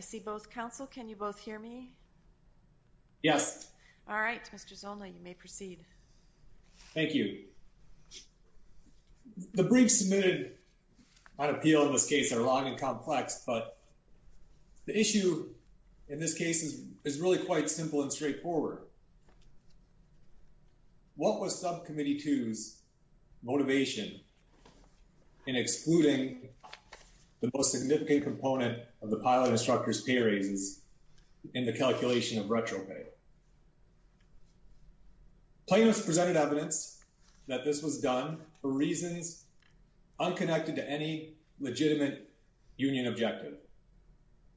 see both counsel, can you both hear me? Yes. All right, Mr. Zolna, you may proceed. Thank you. The briefs submitted on appeal in this case are long and complex, but the issue in this case is really quite simple and straightforward. What was subcommittee two's motivation in excluding the most significant component of the pilot instructor's pay raises in the that this was done for reasons unconnected to any legitimate union objective.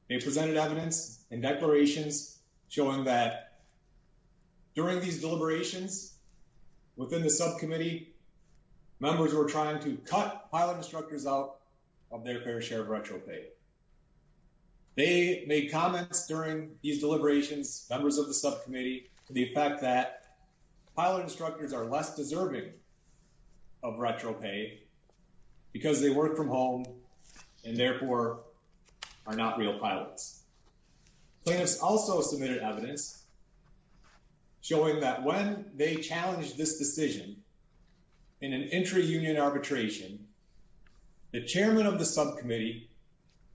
They presented evidence and declarations showing that during these deliberations within the subcommittee, members were trying to cut pilot instructors out of their fair share of retro pay. They made comments during these deliberations, members of the subcommittee, to the effect that pilot instructors are less deserving of retro pay because they work from home and therefore are not real pilots. Plaintiffs also submitted evidence showing that when they challenged this decision in an entry union arbitration, the chairman of the subcommittee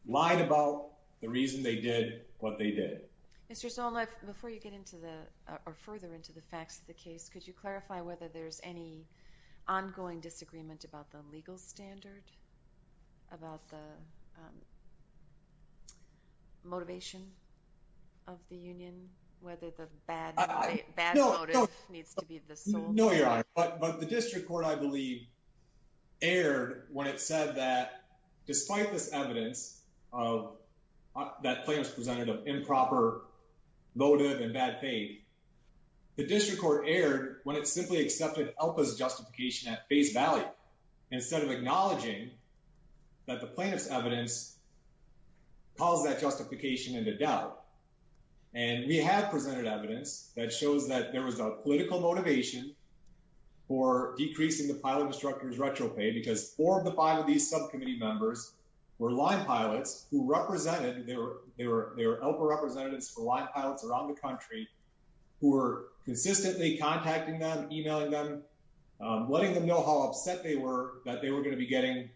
lied about the reason they did what they did. Mr. Zolna, before you get into the, or further into the facts of the case, could you clarify whether there's any ongoing disagreement about the legal standard, about the motivation of the union, whether the bad motive needs to be the sole. No, you're right. But the district court, I believe, erred when it said that despite this evidence that plaintiffs presented of improper motive and bad faith, the district court erred when it simply accepted ELPA's justification at face value, instead of acknowledging that the plaintiff's evidence caused that justification into doubt. And we have presented evidence that shows that there was a political motivation for decreasing the pilot instructors retro pay, because four of the five of these subcommittee members were line pilots who represented, they were ELPA representatives for line pilots around the country, who were consistently contacting them, emailing them, letting them know how upset they were that they were going to be getting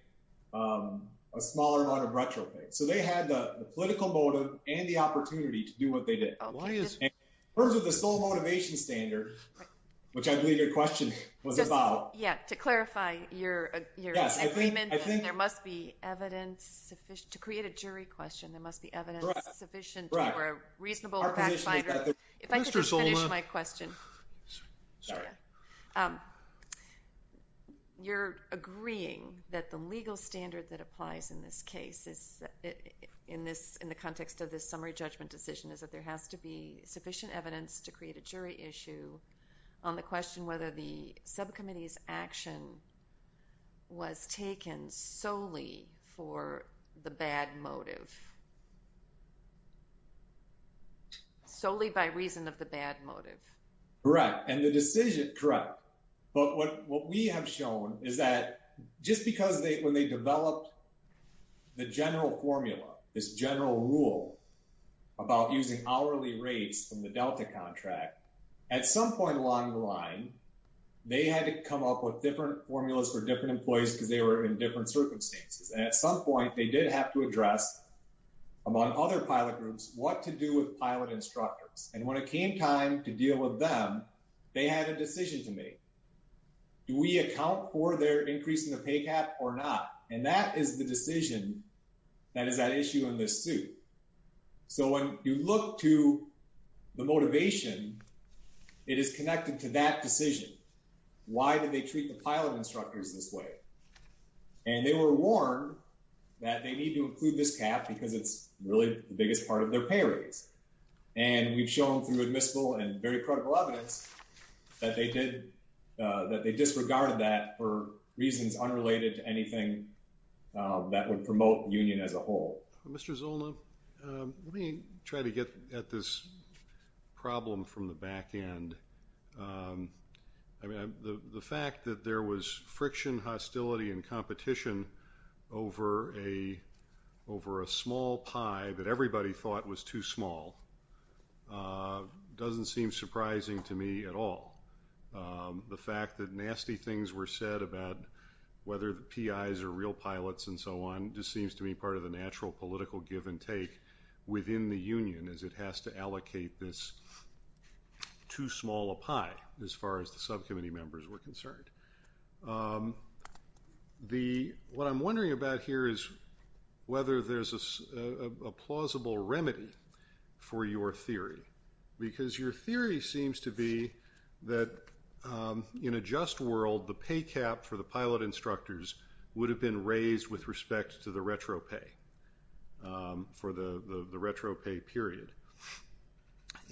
a smaller amount of retro pay. So they had the political motive and the opportunity to do what they did. In terms of the sole motivation standard, which I think you're in agreement that there must be evidence sufficient, to create a jury question, there must be evidence sufficient for a reasonable fact finder. If I could just finish my question. You're agreeing that the legal standard that applies in this case, in the context of this summary judgment decision, is that there has to be sufficient evidence to create a jury issue on the question whether the subcommittee's action was taken solely for the bad motive. Solely by reason of the bad motive. Correct. And the decision, correct. But what we have shown is that just because they, when they developed the general formula, this general rule about using hourly rates from the Delta contract, at some point along the line, they had to come up with different formulas for different employees because they were in different circumstances. And at some point, they did have to address, among other pilot groups, what to do with pilot instructors. And when it came time to deal with them, they had a decision to make. Do we account for their increase in the pay cap or not? And that is the decision that is at issue in this suit. So when you look to the motivation, it is connected to that decision. Why did they treat the pilot instructors this way? And they were warned that they need to include this cap because it's really the biggest part of their pay raise. And we've shown through admissible and very critical evidence that they did, that they disregarded that for reasons unrelated to anything that would promote union as a whole. Mr. Zola, let me try to get at this problem from the back end. I mean, the fact that there was friction, hostility, and competition over a small pie that everybody thought was too small doesn't seem surprising to me at all. The fact that nasty things were said about whether the PIs are real pilots and so on just seems to be part of the natural political give and take within the union as it has to allocate this too small a pie as far as the subcommittee members were concerned. What I'm wondering about here is whether there's a plausible remedy for your theory. Because your in a just world, the pay cap for the pilot instructors would have been raised with respect to the retro pay for the retro pay period.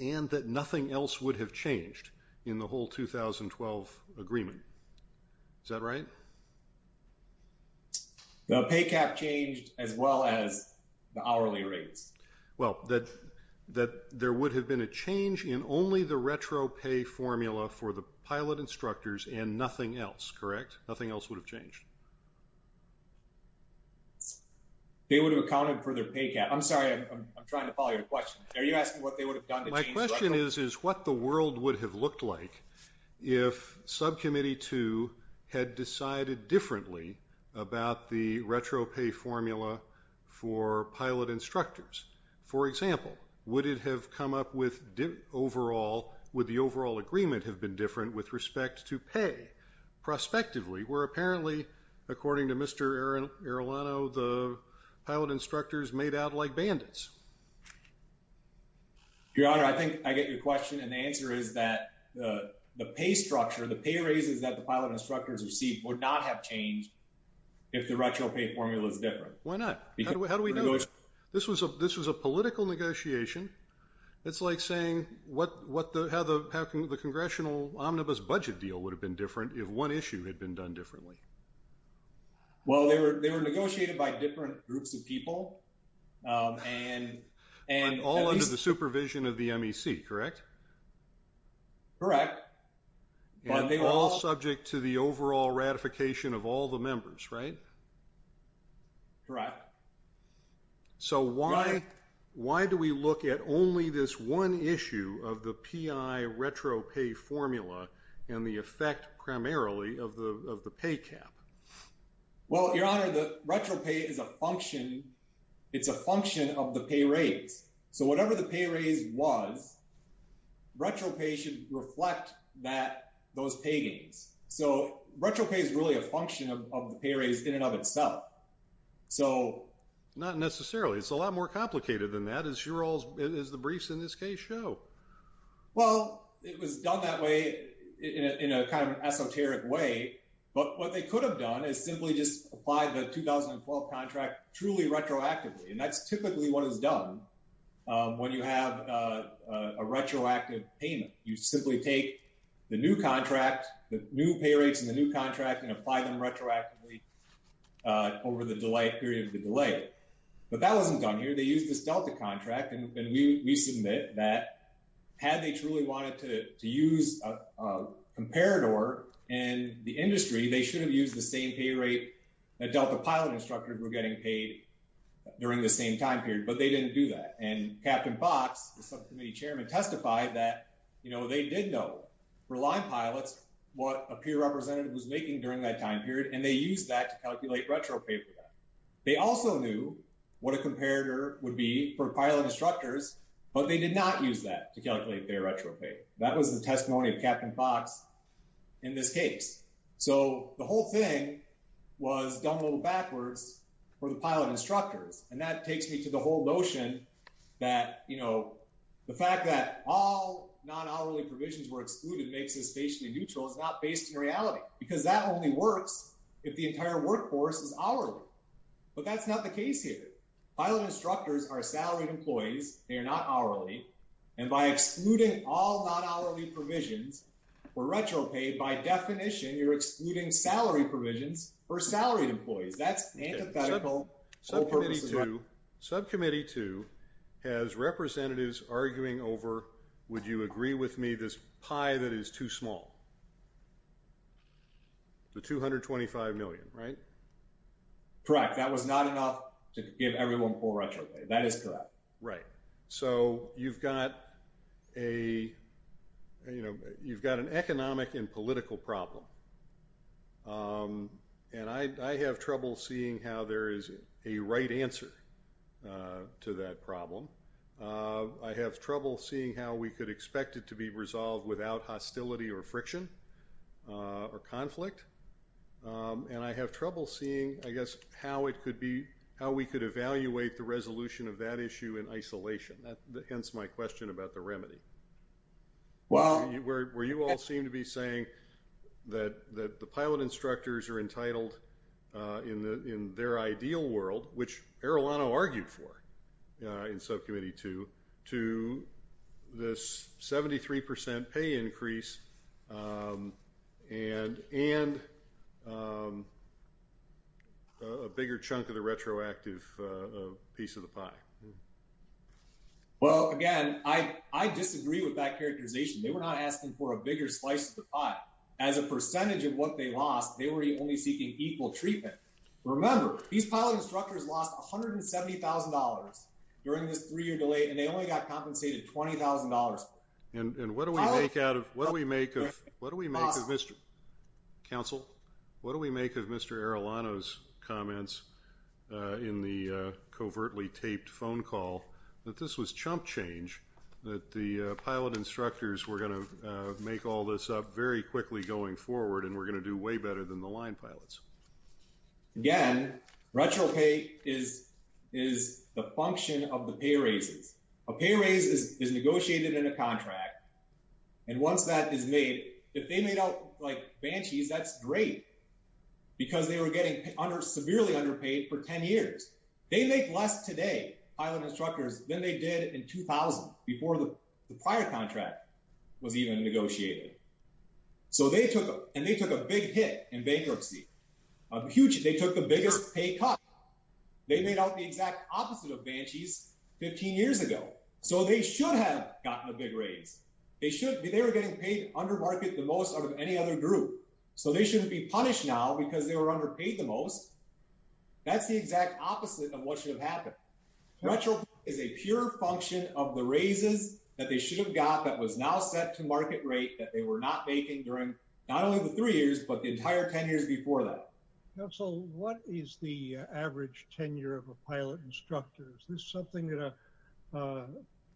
And that nothing else would have changed in the whole 2012 agreement. Is that right? The pay cap changed as well as the hourly rates. Well, that there would have been a change in only the retro pay formula for the pilot instructors and nothing else. Correct? Nothing else would have changed. They would have accounted for their pay cap. I'm sorry, I'm trying to follow your question. Are you asking what they would have done? My question is what the world would have looked like if subcommittee two had decided differently about the retro pay formula for pilot instructors. For example, would it have come up with overall, would the overall agreement have been different with respect to pay prospectively? Where apparently, according to Mr. Arilano, the pilot instructors made out like bandits. Your Honor, I think I get your question. And the answer is that the pay structure, the pay raises that the pilot instructors received would not have changed if the retro pay formula is different. Why not? How do we know? This was a political negotiation. It's like saying how the congressional omnibus budget deal would have been different if one issue had been done differently. Well, they were negotiated by different groups of people. And all under the supervision of the MEC, correct? Correct. All subject to the overall ratification of all the members, right? Correct. So why do we look at only this one issue of the PI retro pay formula and the effect primarily of the pay cap? Well, Your Honor, the retro pay is a function of the pay raise. So whatever the pay raise was, retro pay should reflect those pay gains. So retro pay is really a function of the pay raise in and of itself. So not necessarily. It's a lot more complicated than that, as the briefs in this case show. Well, it was done that way in a kind of esoteric way. But what they could have done is simply just applied the 2012 contract truly retroactively. And that's typically what is done when you have a retroactive payment. You simply take the new contract, the new pay rates in the new contract and apply them retroactively over the period of the delay. But that wasn't done here. They used this delta contract. And we submit that had they truly wanted to use a comparator in the industry, they should have used the same pay rate that Delta pilot instructors were getting paid during the same time period. But they didn't do that. And Captain Fox, the subcommittee chairman, testified that they did know for line pilots what a peer representative was making during that time period. And they used that to calculate retro pay for that. They also knew what a comparator would be for pilot instructors, but they did not use that to calculate their retro pay. That was the testimony of Captain Fox in this case. So the whole thing was done a little backwards for the pilot instructors. And that takes me to the whole notion that the fact that all non-hourly provisions were excluded makes this stationary neutral is not based in reality because that only works if the entire workforce is hourly. But that's not the case here. Pilot instructors are salaried employees. They are not hourly. And by excluding all non-hourly provisions for retro pay, by definition, you're excluding salary provisions for salaried employees. That's antithetical. Subcommittee two has representatives arguing over, would you agree with me this pie that is too small? The 225 million, right? Correct. That was not enough to give everyone full retro pay. That is correct. Right. So you've got an economic and political problem. And I have trouble seeing how there is a right answer to that problem. I have trouble seeing how we could expect it to be resolved without hostility or friction or conflict. And I have the resolution of that issue in isolation. Hence my question about the remedy. Where you all seem to be saying that the pilot instructors are entitled in their ideal world, which Arilano argued for in subcommittee two, to this 73% pay increase and a bigger chunk of the piece of the pie. Well, again, I disagree with that characterization. They were not asking for a bigger slice of the pie. As a percentage of what they lost, they were only seeking equal treatment. Remember, these pilot instructors lost $170,000 during this three-year delay, and they only got compensated $20,000. And what do we make out of, what do we make of, counsel, what do we make of Mr. Arilano's comments in the covertly taped phone call that this was chump change, that the pilot instructors were going to make all this up very quickly going forward and were going to do way better than the line pilots? Again, retro pay is the function of the pay raises. A pay raise is negotiated in a contract, and once that is made, if they made out like banshees, that's great because they were getting severely underpaid for 10 years. They make less today, pilot instructors, than they did in 2000, before the prior contract was even negotiated. And they took a big hit in bankruptcy. They took the biggest pay cut. They made out the exact opposite of banshees 15 years ago. So they should have gotten a big raise. They should be, they were getting paid under market the most out of any other group. So they shouldn't be punished now because they were underpaid the most. That's the exact opposite of what should have happened. Retro is a pure function of the raises that they should have got that was now set to market rate that they were not making during not only the three years, but the entire 10 years before that. Counsel, what is the average tenure of a pilot instructor? Is this something that a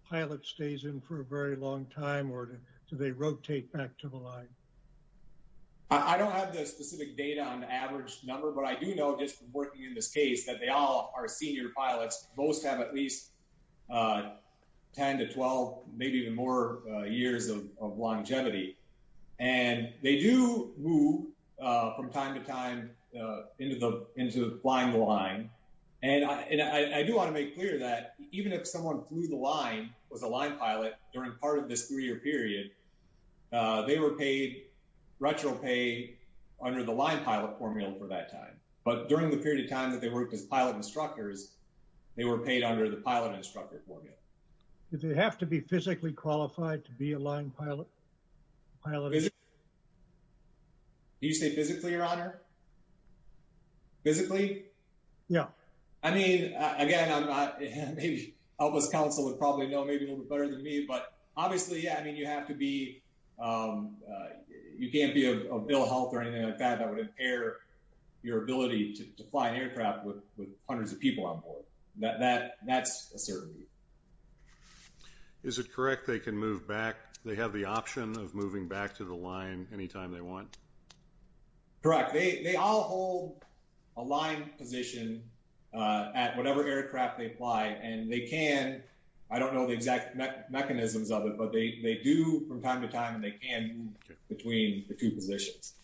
pilot stays in for a very long time or do they rotate back to the line? I don't have the specific data on the average number, but I do know just from working in this case that they all are senior pilots. Most have at least 10 to 12, maybe even more years of into the blind line. And I do want to make clear that even if someone flew the line, was a line pilot during part of this three-year period, they were paid retro pay under the line pilot formula for that time. But during the period of time that they worked as pilot instructors, they were paid under the pilot instructor formula. Do they have to be physically qualified to be a line pilot? I love it. Do you say physically, your honor? Physically? Yeah. I mean, again, I'm not, maybe Elvis counsel would probably know maybe a little bit better than me, but obviously, yeah, I mean, you have to be, you can't be a bill of health or anything like that, that would impair your ability to fly an aircraft with hundreds of people on board. That's a They have the option of moving back to the line anytime they want. Correct. They all hold a line position at whatever aircraft they fly and they can, I don't know the exact mechanisms of it, but they do from time to time and they can between the two positions.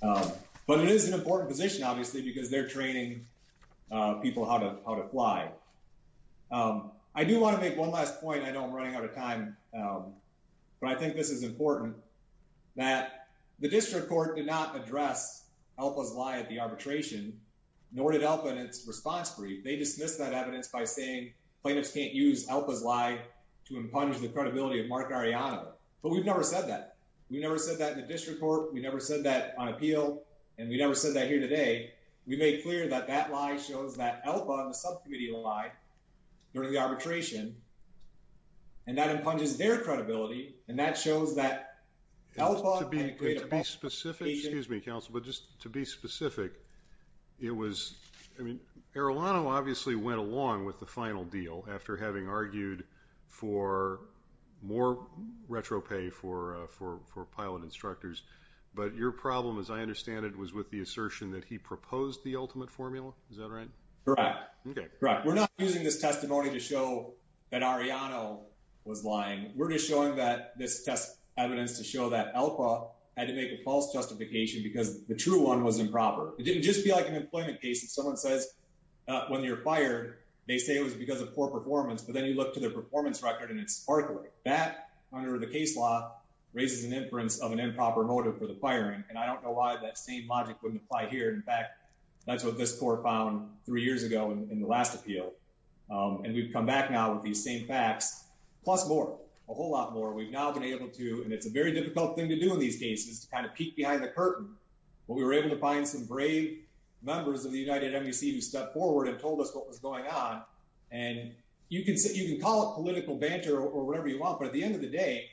But it is an important position, obviously, because they're training people how to fly. I do want to make one last point. I know I'm running out of time, but I think this is important that the district court did not address Elpa's lie at the arbitration, nor did Elpa in its response brief. They dismissed that evidence by saying plaintiffs can't use Elpa's lie to impugn the credibility of Mark Arellano. But we've never said that. We never said that in the district court. We never said that on appeal. And we never said that here today. We made clear that that lie shows that Elpa and the And that shows that Elpa had a great application. To be specific, excuse me, counsel, but just to be specific, it was, I mean, Arellano obviously went along with the final deal after having argued for more retropay for pilot instructors. But your problem, as I understand it, was with the assertion that he proposed the ultimate formula. Is that right? Correct. Correct. We're not using this testimony to show that Arellano was lying. We're just showing that this test evidence to show that Elpa had to make a false justification because the true one was improper. It didn't just be like an employment case. If someone says when you're fired, they say it was because of poor performance, but then you look to their performance record and it's sparkly. That under the case law raises an inference of an improper motive for the firing. And I don't know why that same logic wouldn't apply here. In fact, that's what this court found three years ago in the last appeal. And we've come back now with these same facts, plus more, a whole lot more. We've now been able to, and it's a very difficult thing to do in these cases, to kind of peek behind the curtain. But we were able to find some brave members of the United Embassy who stepped forward and told us what was going on. And you can call it political banter or whatever you want, but at the end of the day,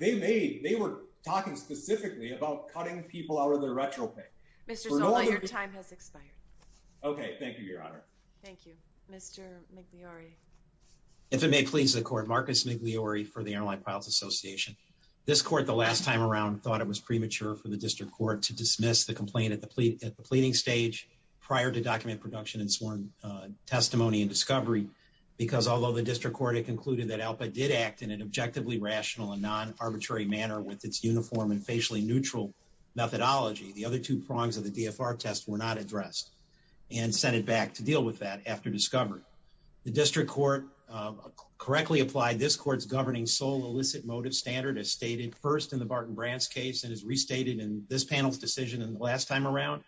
they made, they were talking specifically about cutting people out of their retropay. Mr. Sola, your time has expired. Okay. Thank you, Your Honor. Thank you, Mr. Migliore. If it may please the court, Marcus Migliore for the Airline Pilots Association. This court, the last time around, thought it was premature for the district court to dismiss the complaint at the pleading stage prior to document production and sworn testimony and discovery, because although the district court had concluded that ALPA did act in an objectively rational and non-arbitrary manner with its uniform and facially neutral methodology, the other two prongs of the and sent it back to deal with that after discovery. The district court correctly applied this court's governing sole illicit motive standard as stated first in the Barton Brant's case and is restated in this panel's decision in the last time around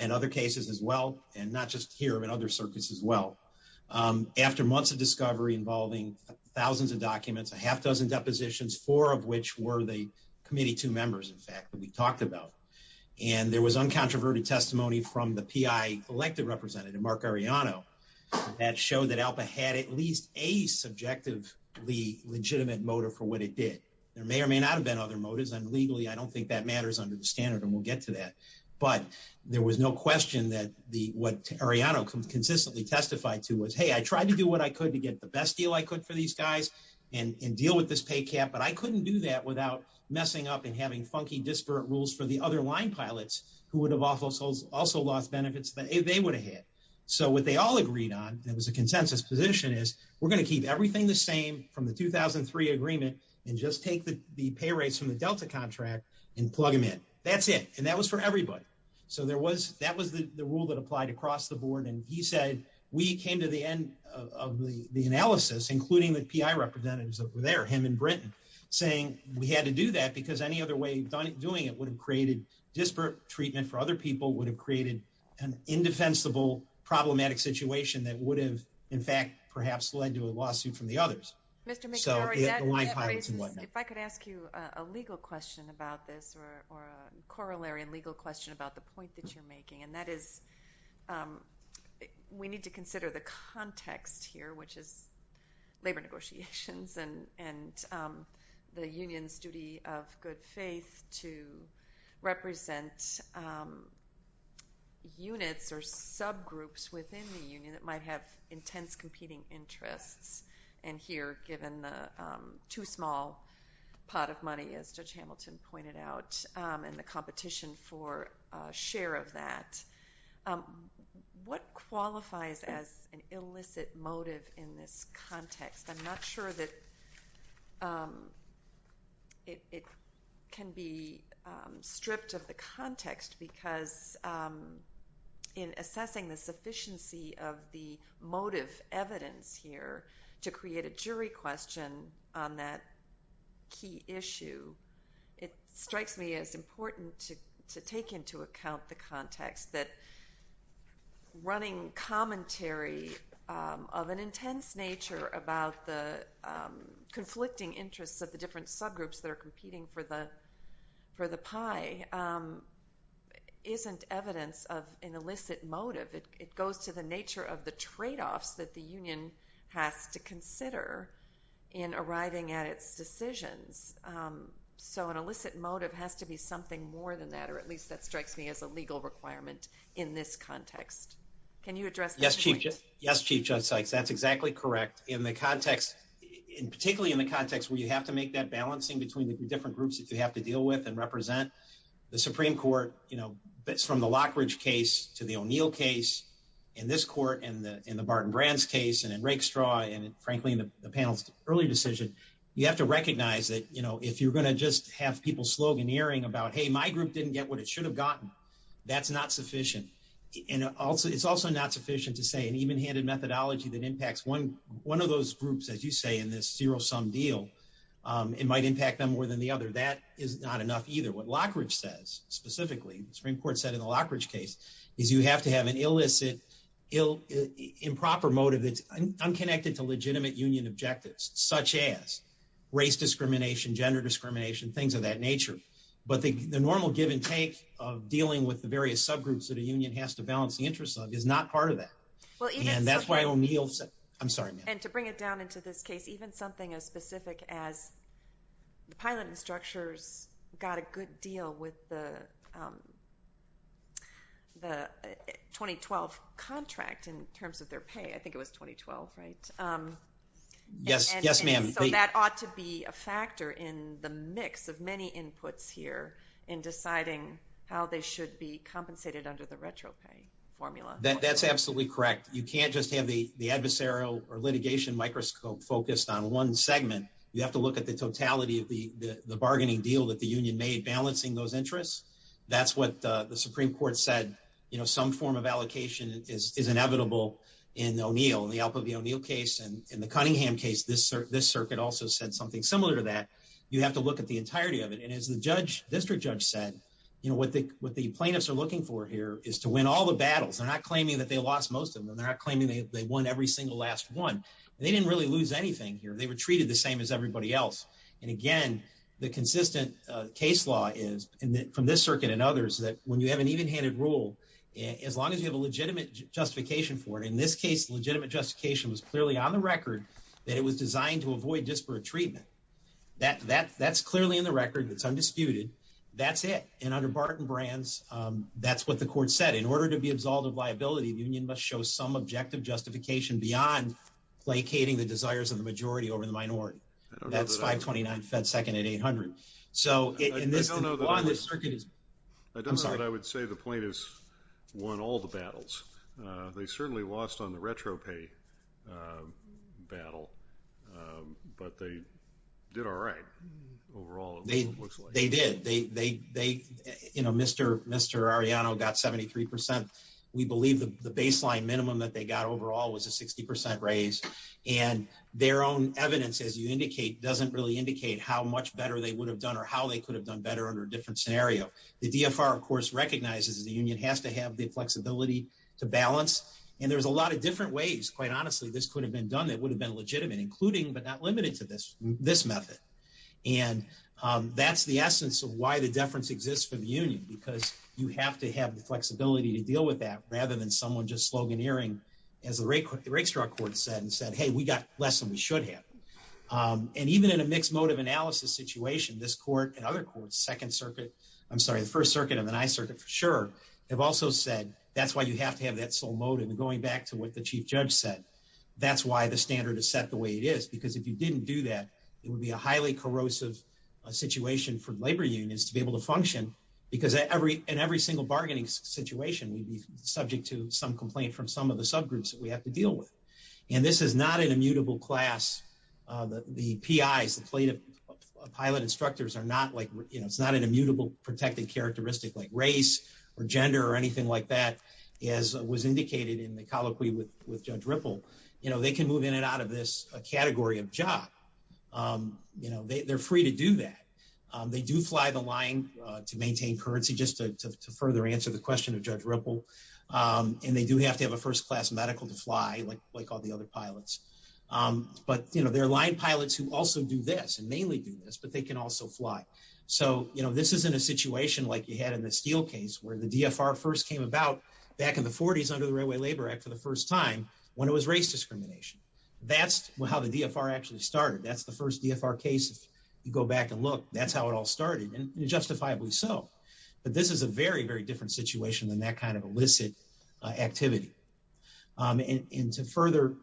and other cases as well, and not just here, but other circuits as well. After months of discovery involving thousands of documents, a half dozen depositions, four of which were the committee, two members, in fact, that we talked about. And there was uncontroverted testimony from the PI elected representative, Mark Arellano, that showed that ALPA had at least a subjectively legitimate motive for what it did. There may or may not have been other motives. And legally, I don't think that matters under the standard, and we'll get to that. But there was no question that what Arellano consistently testified to was, hey, I tried to do what I could to get the best deal I could for these guys and deal with this pay cap, but I couldn't do that without messing up and having funky disparate rules for the other line pilots who would have also lost benefits that they would have had. So what they all agreed on, that was a consensus position, is we're going to keep everything the same from the 2003 agreement and just take the pay rates from the Delta contract and plug them in. That's it. And that was for everybody. So that was the rule that applied across the board. And he said, we came to the end of the analysis, including the PI representatives over there, him and Britton, saying we had to do that because any other way of doing it would have created disparate treatment for other people, would have created an indefensible, problematic situation that would have, in fact, perhaps led to a lawsuit from the others. Mr. McNary, if I could ask you a legal question about this, or a corollary and legal question about the point that you're making, and that is we need to consider the context here, which is labor negotiations and the union's duty of good faith to represent units or subgroups within the union that might have intense competing interests. And here, given the too small pot of money, as Judge Hamilton pointed out, and the competition for share of that, what qualifies as an illicit motive in this context? I'm not sure that it can be stripped of the context because in assessing the sufficiency of the motive evidence here to create a jury question on that key issue, it of an intense nature about the conflicting interests of the different subgroups that are competing for the pie isn't evidence of an illicit motive. It goes to the nature of the tradeoffs that the union has to consider in arriving at its decisions. So an illicit motive has to be something more than that, or at least that strikes me as a legal requirement in this context. Can you address that? Yes, Chief Judge Sykes, that's exactly correct. In the context, particularly in the context where you have to make that balancing between the different groups that you have to deal with and represent, the Supreme Court, you know, that's from the Lockridge case to the O'Neill case, in this court, in the Barton Brands case, and in Rake Straw, and frankly, in the panel's early decision, you have to recognize that, you know, if you're going to just have people sloganeering about, hey, my group didn't get what it should have gotten, that's not sufficient. And it's also not sufficient to say an even-handed methodology that impacts one of those groups, as you say, in this zero-sum deal, it might impact them more than the other. That is not enough either. What Lockridge says, specifically, the Supreme Court said in the Lockridge case, is you have to have an illicit, improper motive that's unconnected to legitimate union objectives, such as race discrimination, gender discrimination, things of that nature. But the normal give and take of dealing with the various subgroups that a union has to balance the interests of is not part of that. And that's why O'Neill said, I'm sorry, ma'am. And to bring it down into this case, even something as specific as the pilot instructors got a good deal with the 2012 contract, in terms of their pay, I think it was 2012, right? Yes, ma'am. So that ought to be a factor in the mix of many inputs here in deciding how they should be compensated under the retropay formula. That's absolutely correct. You can't just have the adversarial or litigation microscope focused on one segment. You have to look at the totality of the bargaining deal that the union made balancing those interests. That's what the Supreme Court said. Some form of allocation is inevitable in O'Neill. In the Alpha v. O'Neill case and in the Cunningham case, this circuit also said something similar to that. You have to look at the entirety of it. And as the district judge said, what the plaintiffs are looking for here is to win all the battles. They're not claiming that they lost most of them. They're not claiming they won every single last one. They didn't really lose anything here. They were treated the same as everybody else. And again, the consistent case law is, from this circuit and for it, in this case, legitimate justification was clearly on the record that it was designed to avoid disparate treatment. That's clearly in the record. It's undisputed. That's it. And under Barton Brands, that's what the court said. In order to be absolved of liability, the union must show some objective justification beyond placating the desires of the majority over the minority. That's 529 Fed Second and 800. I don't know that I would say the plaintiffs won all the battles. They certainly lost on the retro pay battle, but they did all right overall, it looks like. They did. Mr. Arellano got 73%. We believe the baseline minimum that they got overall was a 60% raise. And their own evidence, as you indicate, doesn't really indicate how much better they would have done or how they could have done better under a different scenario. The DFR, of course, recognizes the union has to have the flexibility to balance. And there's a lot of different ways, quite honestly, this could have been done that would have been legitimate, including but not limited to this method. And that's the essence of why the deference exists for the union, because you have to have the flexibility to deal with that rather than someone just sloganeering, as the Rakestraw Court said, and said, hey, we got less than we should have. And even in a mixed motive analysis situation, this court and other courts, I'm sorry, the First Circuit and the Ninth Circuit for sure, have also said, that's why you have to have that sole motive. And going back to what the Chief Judge said, that's why the standard is set the way it is. Because if you didn't do that, it would be a highly corrosive situation for labor unions to be able to function. Because in every single bargaining situation, we'd be subject to some complaint from some of the subgroups that we have to deal with. And this is not an immutable class. The PIs, the pilot instructors, it's not an immutable protected characteristic like race or gender or anything like that, as was indicated in the colloquy with Judge Ripple. They can move in and out of this category of job. They're free to do that. They do fly the line to maintain currency, just to further answer the question of Judge Ripple. And they do have to have a but they're line pilots who also do this and mainly do this, but they can also fly. So this isn't a situation like you had in the Steele case, where the DFR first came about back in the 40s under the Railway Labor Act for the first time, when it was race discrimination. That's how the DFR actually started. That's the first DFR case. If you go back and look, that's how it all started, and justifiably so. But this is a very, very different situation than that kind of illicit activity. And to further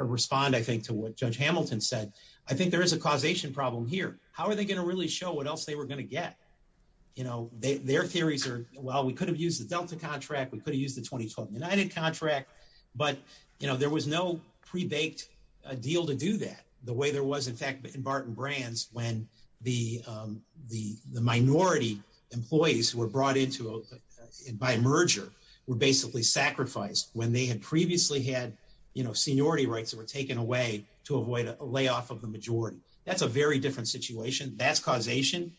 respond, I think, to what Judge Hamilton said, I think there is a causation problem here. How are they going to really show what else they were going to get? Their theories are, well, we could have used the Delta contract. We could have used the 2012 United contract. But there was no pre-baked deal to do that, the way there was, in fact, in Barton Brands, when the minority employees who were brought in by merger were basically sacrificed, when they had previously had seniority rights that were taken away to avoid a layoff of the majority. That's a very different situation. That's causation.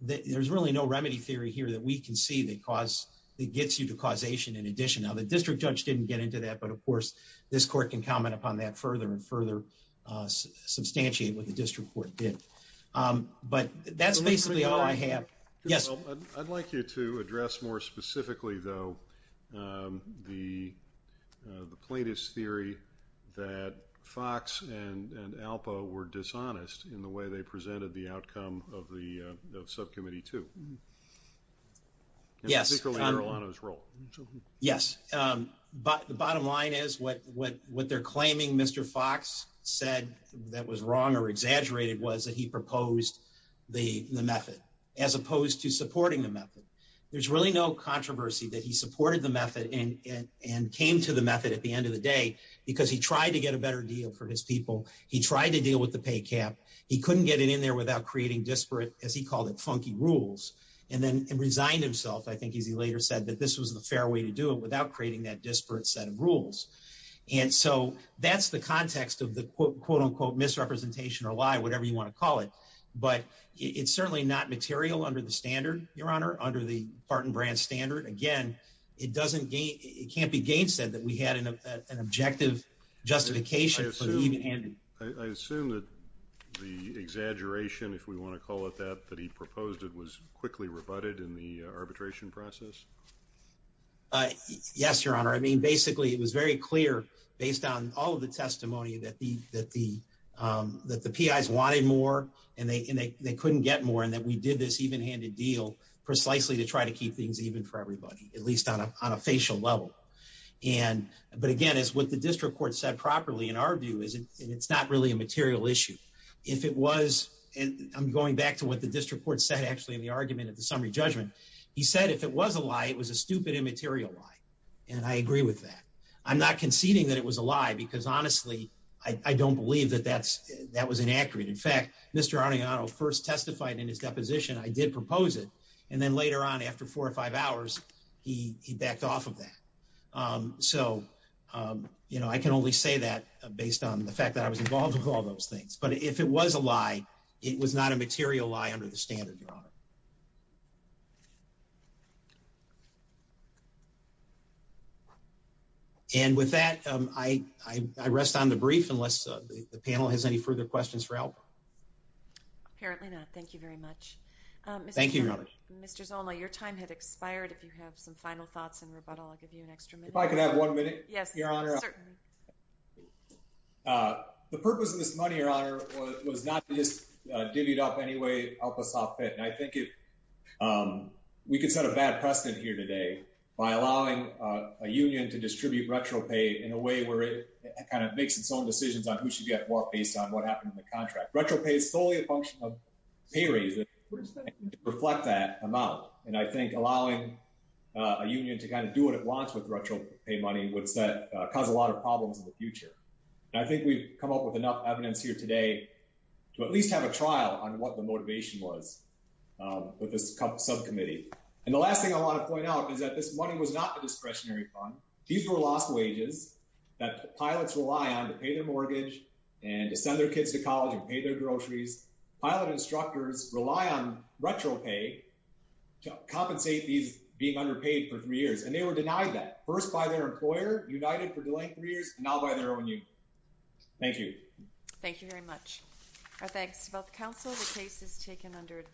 There's really no remedy theory here that we can see that gets you to causation in addition. Now, the district judge didn't get into that, but of course, this court can comment upon that further and further substantiate what the district court did. But that's basically all I have. Yes? I'd like you to address more specifically, though, the plaintiff's theory that Fox and Alpo were dishonest in the way they presented the outcome of Subcommittee 2. Yes. And particularly in Erlano's role. Yes. The bottom line is what they're wrong or exaggerated was that he proposed the method, as opposed to supporting the method. There's really no controversy that he supported the method and came to the method at the end of the day because he tried to get a better deal for his people. He tried to deal with the pay cap. He couldn't get it in there without creating disparate, as he called it, funky rules, and then resigned himself, I think, as he later said, that this was the fair way to do it without creating that disparate set of rules. And so, that's the context of the quote-unquote misrepresentation or lie, whatever you want to call it. But it's certainly not material under the standard, Your Honor, under the Barton Brand standard. Again, it can't be gainsaid that we had an objective justification for the even-handed. I assume that the exaggeration, if we want to call it that, that he proposed it was quickly rebutted in the arbitration process? Yes, Your Honor. I mean, basically, it was very clear, based on all of the testimony, that the PIs wanted more, and they couldn't get more, and that we did this even-handed deal precisely to try to keep things even for everybody, at least on a facial level. But again, it's what the district court said properly, in our view, and it's not really a material issue. If it was, and I'm going back to what the district court said, actually, the argument of the summary judgment, he said if it was a lie, it was a stupid, immaterial lie. And I agree with that. I'm not conceding that it was a lie, because honestly, I don't believe that that's, that was inaccurate. In fact, Mr. Arneano first testified in his deposition, I did propose it, and then later on, after four or five hours, he backed off of that. So, you know, I can only say that based on the fact that I was involved with all those things. But if it was a lie, it was not a material lie under the standard, Your Honor. And with that, I rest on the brief, unless the panel has any further questions for Albrecht. Apparently not. Thank you very much. Thank you, Your Honor. Mr. Zola, your time had expired. If you have some final thoughts and rebuttal, I'll give you an extra minute. If I could have one minute? Yes, Your Honor. Certainly. The purpose of this money, Your Honor, was not just divvied up any way Alpa saw fit. And I think we could set a bad precedent here today by allowing a union to distribute retro pay in a way where it kind of makes its own decisions on who should get what based on what happened in the contract. Retro pay is solely a function of pay raise, to reflect that amount. And I think allowing a union to kind of do what it wants with retro pay money would cause a lot of problems in the future. I think we've come up with enough evidence here today to at least have a trial on what the motivation was with this subcommittee. And the last thing I want to point out is that this money was not a discretionary fund. These were lost wages that pilots rely on to pay their mortgage and to send their kids to college and pay their groceries. Pilot instructors rely on retro pay to compensate these being underpaid for three years. And they were denied that, first by their employer, United, for delaying three years, and now by their own union. Thank you. Thank you very much. Our thanks to both council. The case is taken under advice.